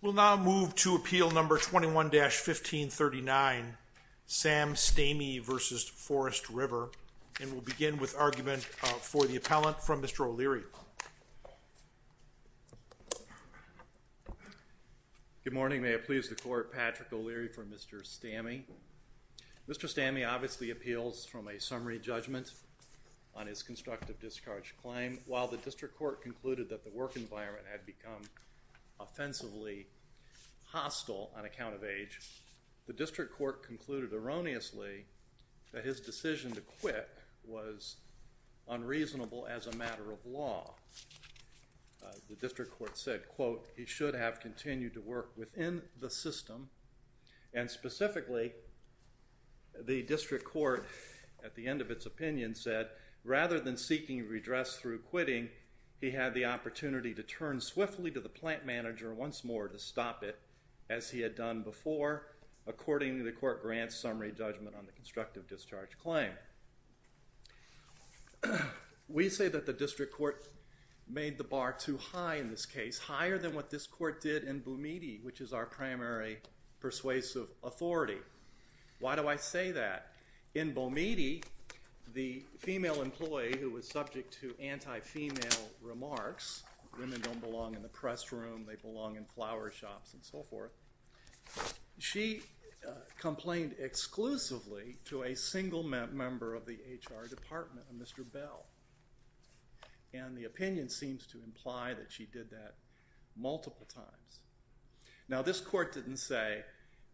We will now move to Appeal No. 21-1539, Sam Stamey v. Forest River, and we will begin with argument for the appellant from Mr. O'Leary. Good morning, may it please the Court, Patrick O'Leary for Mr. Stamey. Mr. Stamey obviously appeals from a summary judgment on his constructive discharge claim while the District Court concluded that the work environment had become offensively hostile on account of age, the District Court concluded erroneously that his decision to quit was unreasonable as a matter of law. The District Court said, quote, he should have continued to work within the system, and specifically the District Court at the end of its opinion said, rather than seeking redress through quitting, he had the opportunity to turn swiftly to the plant manager once more to stop it, as he had done before, according to the Court Grant Summary Judgment on the Constructive Discharge Claim. We say that the District Court made the bar too high in this case, higher than what this Court did in Bumidi, which is our primary persuasive authority. Why do I say that? In the case of the female employee who was subject to anti-female remarks, women don't belong in the press room, they belong in flower shops, and so forth, she complained exclusively to a single member of the HR department, a Mr. Bell, and the opinion seems to imply that she did that multiple times. Now this Court didn't say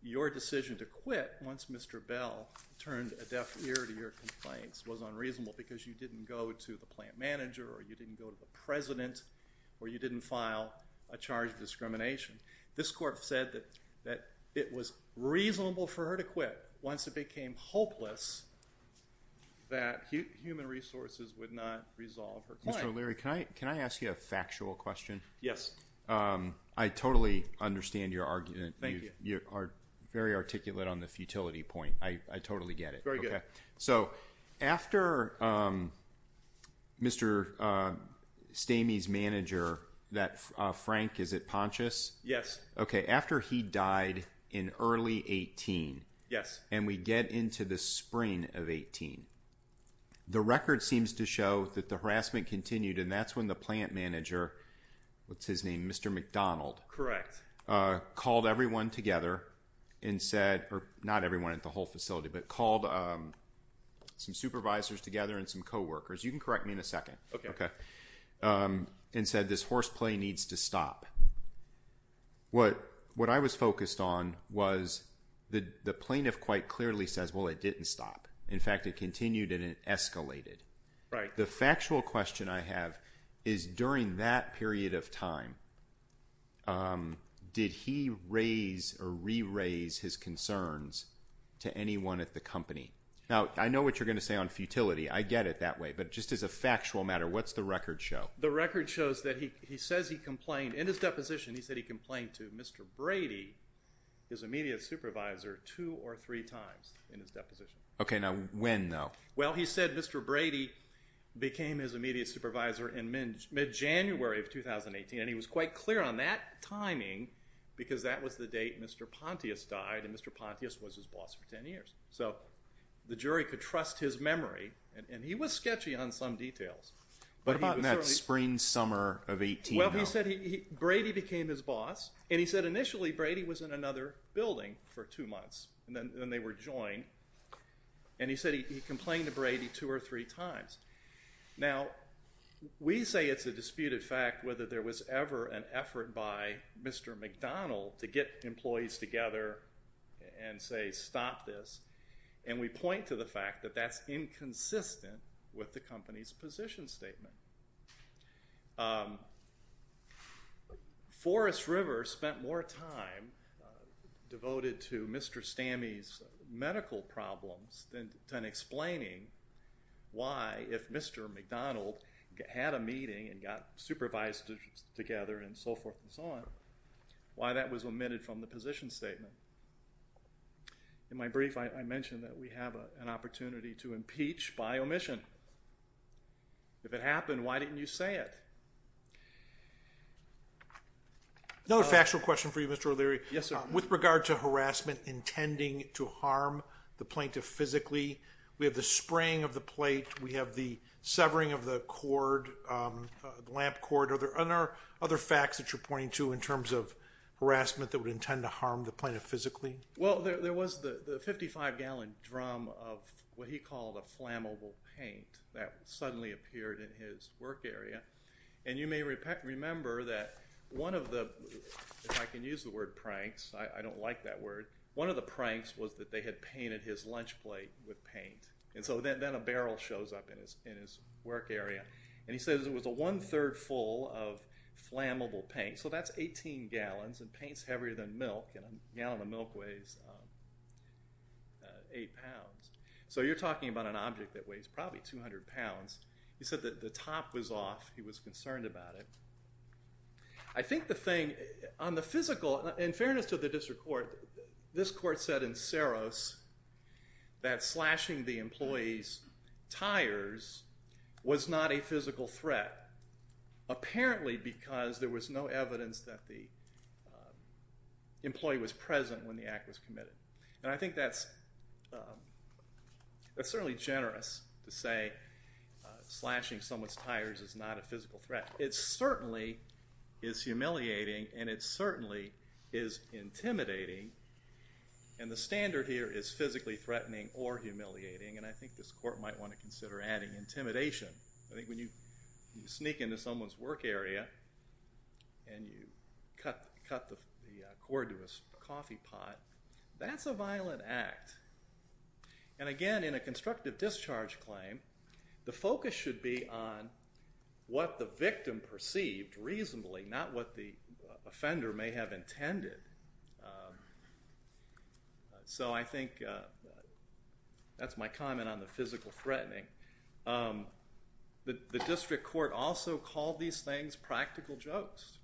your decision to quit once Mr. Bell complained was unreasonable because you didn't go to the plant manager, or you didn't go to the president, or you didn't file a charge of discrimination. This Court said that it was reasonable for her to quit once it became hopeless that human resources would not resolve her claim. Mr. O'Leary, can I ask you a factual question? Yes. I totally understand your argument. You are very articulate on the futility point. I totally get it. So, after Mr. Stamey's manager, Frank Pontius, after he died in early 18, and we get into the spring of 18, the record seems to show that the harassment continued and that's when the plant manager, what's his name, Mr. McDonald, called everyone together and said, or not everyone at the whole facility, but called some supervisors together and some co-workers, you can correct me in a second, and said this horseplay needs to stop. What I was focused on was the plaintiff quite clearly says, well it didn't stop. In fact, it continued and it escalated. The factual question I have is during that period of time, did he raise or re-raise his concerns to anyone at the company? Now, I know what you're going to say on futility. I get it that way, but just as a factual matter, what's the record show? The record shows that he says he complained, in his deposition he said he complained to Mr. Brady, his immediate supervisor, two or three times in his deposition. Okay, now when though? Well he said Mr. Brady became his immediate supervisor in mid-January of 2018 and he was quite clear on that timing because that was the date Mr. Pontius died and Mr. Pontius was his boss for ten years. So the jury could trust his memory and he was sketchy on some details. But about in that spring-summer of 18 how? Well he said Brady became his boss and he said initially Brady was in another building for two months and then they were joined and he said he complained to Brady two or three times. Now, we say it's a disputed fact whether there was ever an effort by Mr. McDonnell to get employees together and say stop this and we point to the fact that that's inconsistent with the company's position statement. Forest River spent more time devoted to Mr. Stammy's medical problems than explaining why if Mr. McDonnell had a meeting and got supervised together and so forth and so on, why that was omitted from the position statement. In my brief I mentioned that we have an opportunity to impeach by omission. If it happened, why didn't you say it? Another factual question for you, Mr. O'Leary. Yes, sir. With regard to harassment intending to harm the plaintiff physically, we have the spraying of the plate, we have the severing of the cord, the lamp cord. Are there other facts that you're pointing to in terms of harassment that would intend to harm the plaintiff physically? Well, there was the 55-gallon drum of what he called a flammable paint that suddenly appeared in his work area. And you may remember that one of the, if I can use the word pranks, I don't like that word, one of the pranks was that they had painted his lunch plate with paint. And so then a barrel shows up in his work area and he says it was a one-third full of flammable paint. So that's 18 gallons and paint's heavier than milk and a gallon of milk weighs 8 pounds. So you're talking about an object that weighs probably 200 pounds. He said that the top was off. He was concerned about it. I think the thing, on the physical, in fairness to the district court, this court said in Saros that slashing the employee's tires was not a physical threat, apparently because there was no evidence that the employee was present when the act was committed. And I think that's certainly generous to say slashing someone's tires is not a physical threat. It certainly is humiliating and it certainly is intimidating. And the standard here is physically threatening or humiliating and I think this court might want to consider adding intimidation. I think when you sneak into someone's work area and you cut the cord to a coffee pot, that's a violent act. And again, in a constructive discharge claim, the focus should be on what the victim perceived reasonably, not what the offender may have intended. So I think that's my comment on the physical threatening. The district court also called these things practical jokes,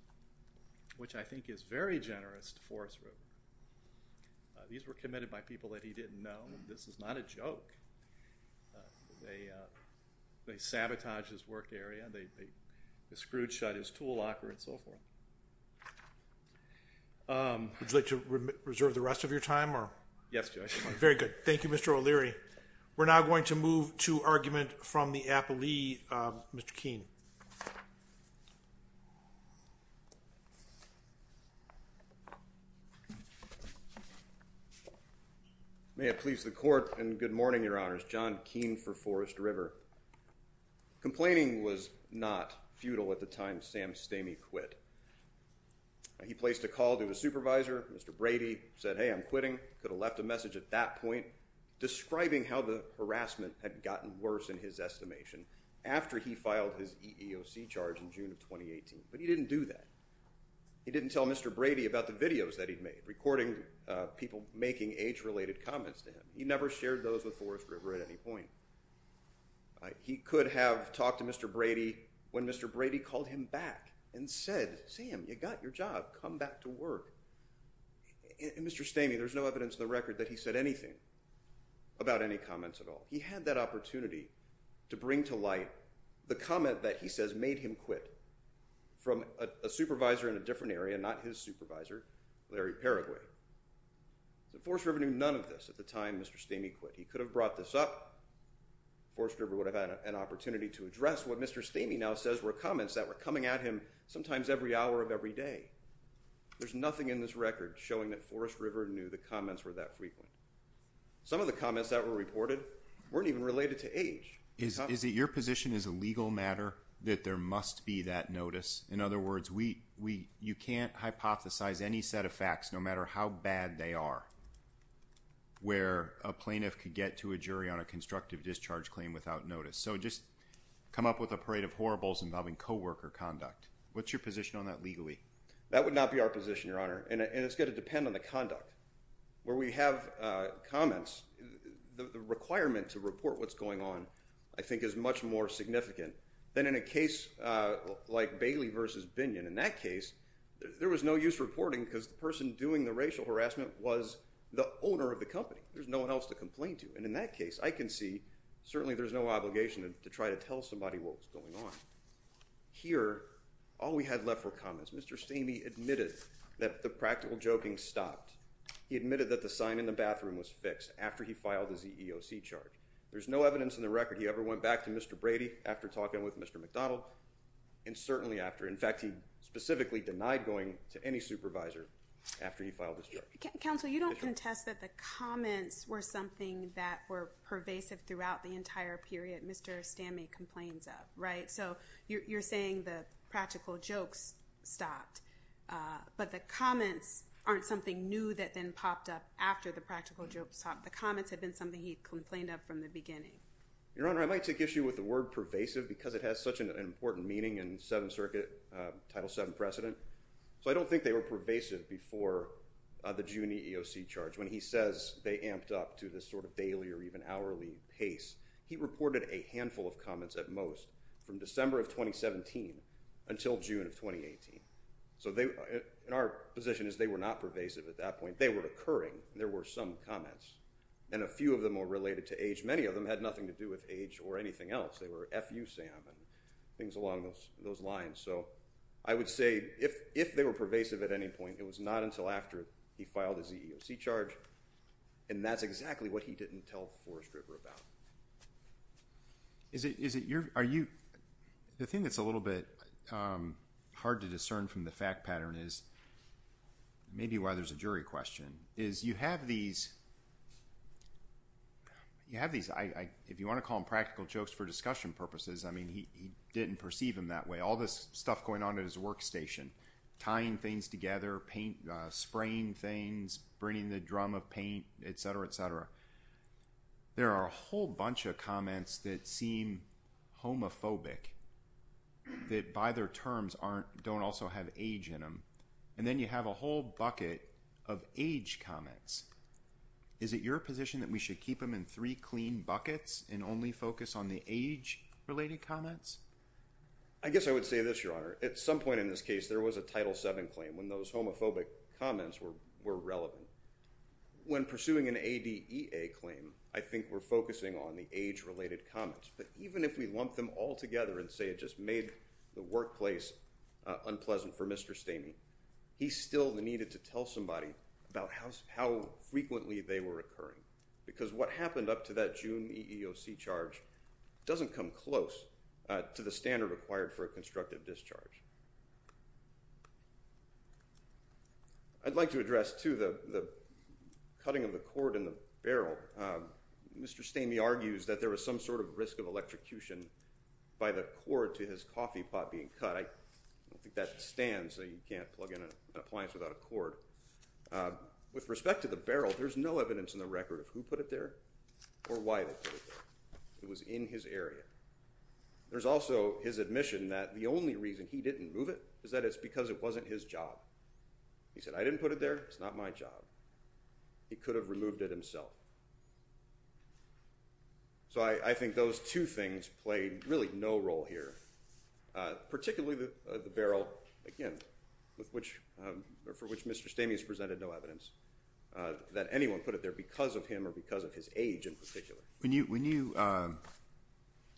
which I think is very generous to Forrest that they sabotaged his work area, they screwed shut his tool locker, and so forth. Would you like to reserve the rest of your time? Yes, Judge. Very good. Thank you, Mr. O'Leary. We're now going to move to argument from the appellee, Mr. Keene. May it please the court and good morning, Your Honors. John Keene for Forrest River Complaining was not futile at the time Sam Stamey quit. He placed a call to his supervisor, Mr. Brady, said, hey, I'm quitting. Could have left a message at that point describing how the harassment had gotten worse in his estimation after he filed his EEOC charge in June of 2018. But he didn't do that. He didn't tell Mr. Brady about the videos that he'd made, recording people making age-related comments to him. He never shared those with He could have talked to Mr. Brady when Mr. Brady called him back and said, Sam, you got your job. Come back to work. Mr. Stamey, there's no evidence in the record that he said anything about any comments at all. He had that opportunity to bring to light the comment that he says made him quit from a supervisor in a different area, not his supervisor, Larry Paraguay. Forrest River knew none of this at the time Mr. Stamey quit. He could have brought this up. Forrest River would have had an opportunity to address what Mr. Stamey now says were comments that were coming at him sometimes every hour of every day. There's nothing in this record showing that Forrest River knew the comments were that frequent. Some of the comments that were reported weren't even related to age. Is it your position as a legal matter that there must be that notice? In other words, you can't hypothesize any set of facts no matter how bad they are where a plaintiff could get to a jury on a constructive discharge claim without notice. So just come up with a parade of horribles involving co-worker conduct. What's your position on that legally? That would not be our position, Your Honor, and it's going to depend on the conduct. Where we have comments, the requirement to report what's going on I think is much more significant than in a case like Bailey v. Binion. In that case, the racial harassment was the owner of the company. There's no one else to complain to, and in that case, I can see certainly there's no obligation to try to tell somebody what was going on. Here, all we had left were comments. Mr. Stamey admitted that the practical joking stopped. He admitted that the sign in the bathroom was fixed after he filed the ZEOC charge. There's no evidence in the record he ever went back to Mr. Brady after talking with Mr. McDonald, and certainly after. In fact, he specifically denied going to any supervisor after he filed this charge. Counsel, you don't contest that the comments were something that were pervasive throughout the entire period Mr. Stamey complains of, right? So you're saying the practical jokes stopped, but the comments aren't something new that then popped up after the practical jokes stopped. The comments have been something he complained of from the beginning. Your Honor, I might take issue with the word pervasive because it has such an important meaning in Seventh Circuit, Title VII precedent. So I don't think they were pervasive before the June EEOC charge. When he says they amped up to this sort of daily or even hourly pace, he reported a handful of comments at most from December of 2017 until June of 2018. So in our position is they were not pervasive at that point. They were occurring. There were some comments, and a few of them are related to age. Many of them had nothing to do with age or anything else. They were FUSAM and things along those lines. So I would say if they were pervasive at any point, it was not until after he filed his EEOC charge, and that's exactly what he didn't tell Forrest River about. The thing that's a little bit hard to discern from the fact pattern is, maybe why there's a jury question, is you have these, if you want to call them practical jokes for discussion purposes, I mean, he didn't perceive them that way. All this stuff going on at his workstation, tying things together, spraying things, bringing the drum of paint, et cetera, et cetera. There are a whole bunch of comments that seem homophobic, that by their terms don't also have age in them. And then you have a whole bucket of age comments. Is it your position that we should keep them in three clean buckets and only focus on the age-related comments? I guess I would say this, Your Honor. At some point in this case, there was a Title VII claim when those homophobic comments were relevant. When pursuing an ADEA claim, I think we're focusing on the age-related comments. But even if we lump them all together and say it just made the workplace unpleasant for Mr. Stamey, he still needed to tell somebody about how frequently they were occurring. Because what happened up to that June EEOC charge doesn't come close to the standard required for a constructive discharge. I'd like to address, too, the cutting of the cord in the barrel. Mr. Stamey argues that there was some sort of risk of electrocution by the cord to his coffee pot being cut. I With respect to the barrel, there's no evidence in the record of who put it there or why they put it there. It was in his area. There's also his admission that the only reason he didn't move it is that it's because it wasn't his job. He said, I didn't put it there. It's not my job. He could have removed it himself. So I think those two things played really no role here, particularly the barrel, again, for which Mr. Stamey has presented no evidence that anyone put it there because of him or because of his age in particular. When you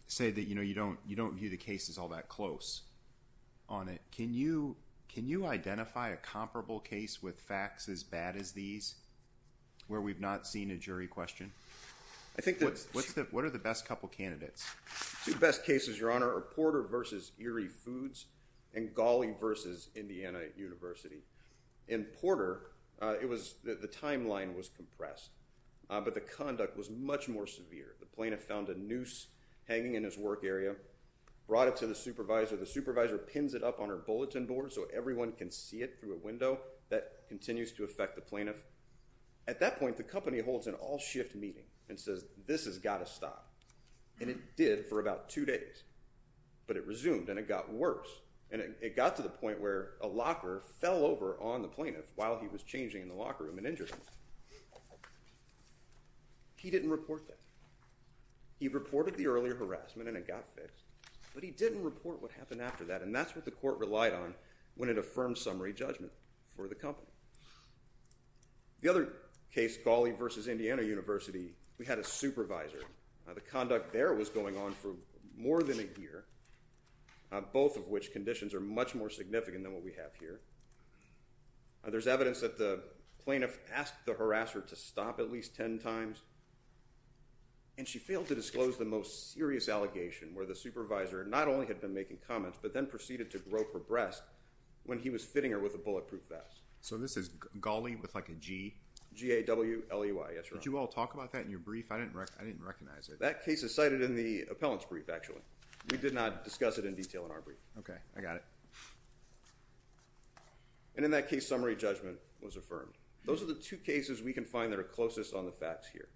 say that you don't view the cases all that close on it, can you identify a comparable case with facts as bad as these where we've not seen a jury question? What are the best couple candidates? Two best cases, Your Honor, are Porter v. Erie Foods and Gawley v. Indiana University. In Porter, the timeline was compressed, but the conduct was much more severe. The plaintiff found a noose hanging in his work area, brought it to the supervisor. The supervisor pins it up on her bulletin board so everyone can see it through a window. That continues to affect the plaintiff. At that point, the company holds an all-shift meeting and says, this has got to stop. And it did for about two days. But it resumed, and it got worse. And it got to the point where a locker fell over on the plaintiff while he was changing in the locker room and injured him. He didn't report that. He reported the earlier harassment and it got fixed, but he didn't report what happened after that. And that's what the court relied on when it affirmed summary judgment for the company. The other case, Gawley v. Indiana University, we had a supervisor. The conduct there was going on for more than a year, both of which conditions are much more significant than what we have here. There's evidence that the plaintiff asked the harasser to stop at least ten times, and she failed to disclose the most serious allegation where the supervisor not only had been making comments, but then proceeded to grope her breast when he was fitting her with a bulletproof vest. So this is Gawley with like a G? G-A-W-L-E-Y. Yes, Your Honor. Did you all talk about that in your brief? I didn't recognize it. That case is cited in the appellant's brief, actually. We did not discuss it in detail in our brief. Okay, I got it. And in that case, summary judgment was affirmed. Those are the two cases we can find that are closest on the facts here.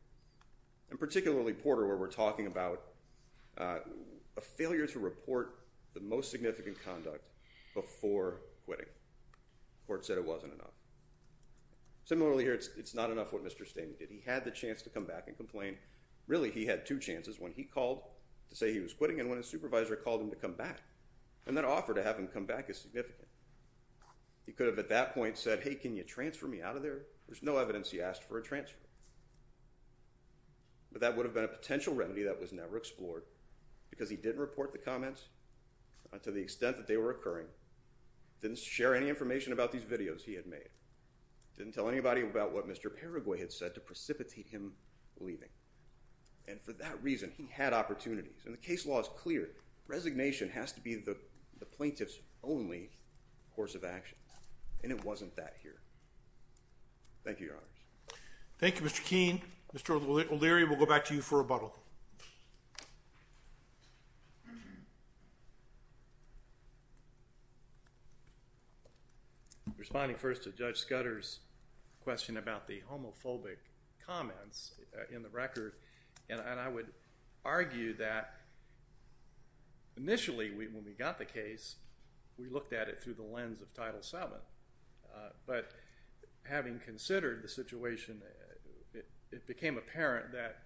And particularly Porter, where we're talking about a failure to report the most significant conduct before quitting. Court said it wasn't enough. Similarly here, it's not enough what Mr. Stamey did. He had the chance to come back and complain. Really, he had two chances, when he called to say he was quitting and when his supervisor called him to come back. And that offer to have him come back is significant. He could have at that point said, hey, can you transfer me out of there? There's no evidence he asked for a transfer. But that would have been a potential remedy that was never explored because he didn't report the comments to the extent that they were occurring. Didn't share any information about these videos he had made. Didn't tell anybody about what Mr. Paraguay had said to precipitate him leaving. And for that reason, he had opportunities. And the case law is clear. Resignation has to be the plaintiff's only course of action. And it wasn't that here. Thank you, Your Honors. Thank you, Mr. Keene. Mr. O'Leary, we'll go back to you for rebuttal. Responding first to Judge Scudder's question about the homophobic comments in the record. And I would argue that initially when we got the case, we looked at it through the lens of Title VII. But having considered the situation, it became apparent that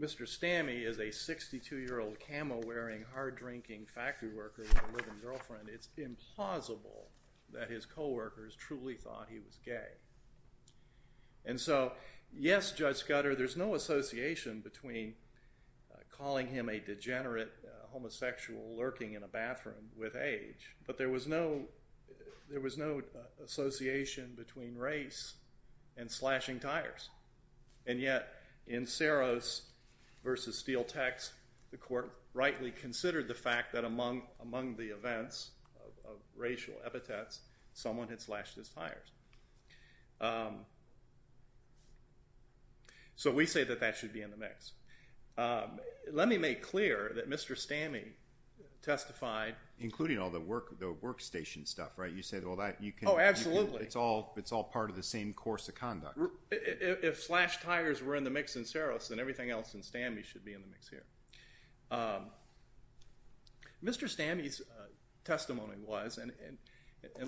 Mr. Stammey is a 62-year-old camo-wearing, hard-drinking factory worker with a living girlfriend. It's implausible that his coworkers truly thought he was gay. And so, yes, Judge Scudder, there's no association between calling him a degenerate, homosexual lurking in a bathroom with age. But there was no association between race and slashing tires. And yet, in Saros v. Steel Tax, the court rightly considered the fact that among the events of racial epithets, someone had slashed his tires. So we say that that should be in the mix. Let me make clear that Mr. Stammey testified. Including all the workstation stuff, right? Oh, absolutely. It's all part of the same course of conduct. If slashed tires were in the mix in Saros, then everything else in Stammey should be in the mix here. Mr. Stammey's testimony was, and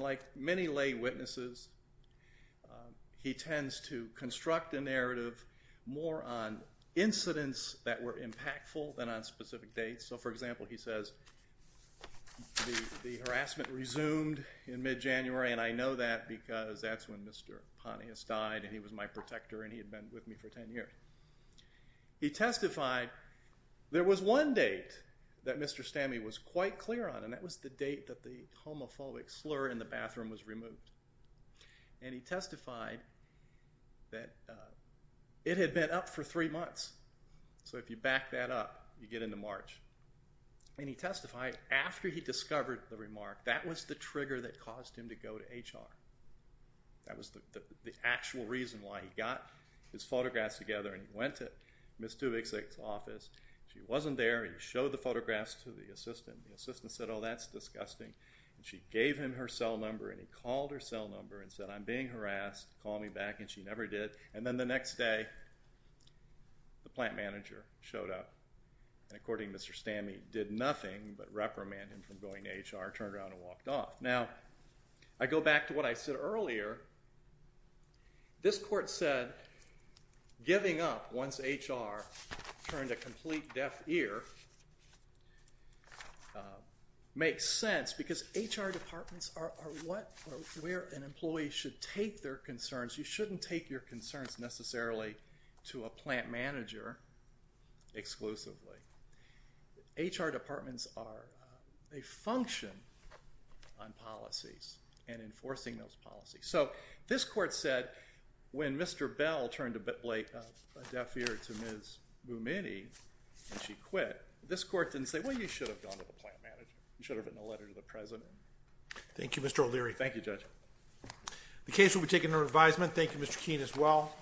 like many lay witnesses, he tends to construct a narrative more on incidents that were impactful than on specific dates. So, for example, he says the harassment resumed in mid-January, and I know that because that's when Mr. Pontius died and he was my protector and he had been with me for ten years. He testified. There was one date that Mr. Stammey was quite clear on, and that was the date that the homophobic slur in the bathroom was removed. And he testified that it had been up for three months. So if you back that up, you get into March. And he testified after he discovered the remark. That was the trigger that caused him to go to HR. That was the actual reason why he got his photographs together and went to Ms. Dubiksek's office. She wasn't there. He showed the photographs to the assistant. The assistant said, oh, that's disgusting. She gave him her cell number and he called her cell number and said, I'm being harassed. Call me back, and she never did. And then the next day, the plant manager showed up. And according to Mr. Stammey, did nothing but reprimand him for going to HR, turned around and walked off. Now, I go back to what I said earlier. This court said giving up once HR turned a complete deaf ear makes sense because HR departments are where an employee should take their concerns. You shouldn't take your concerns necessarily to a plant manager exclusively. HR departments are a function on policies and enforcing those policies. So this court said when Mr. Bell turned a deaf ear to Ms. Bumini and she quit, this court didn't say, well, you should have gone to the plant manager. You should have written a letter to the president. Thank you, Mr. O'Leary. Thank you, Judge. The case will be taken under advisement. Thank you, Mr. Keene, as well.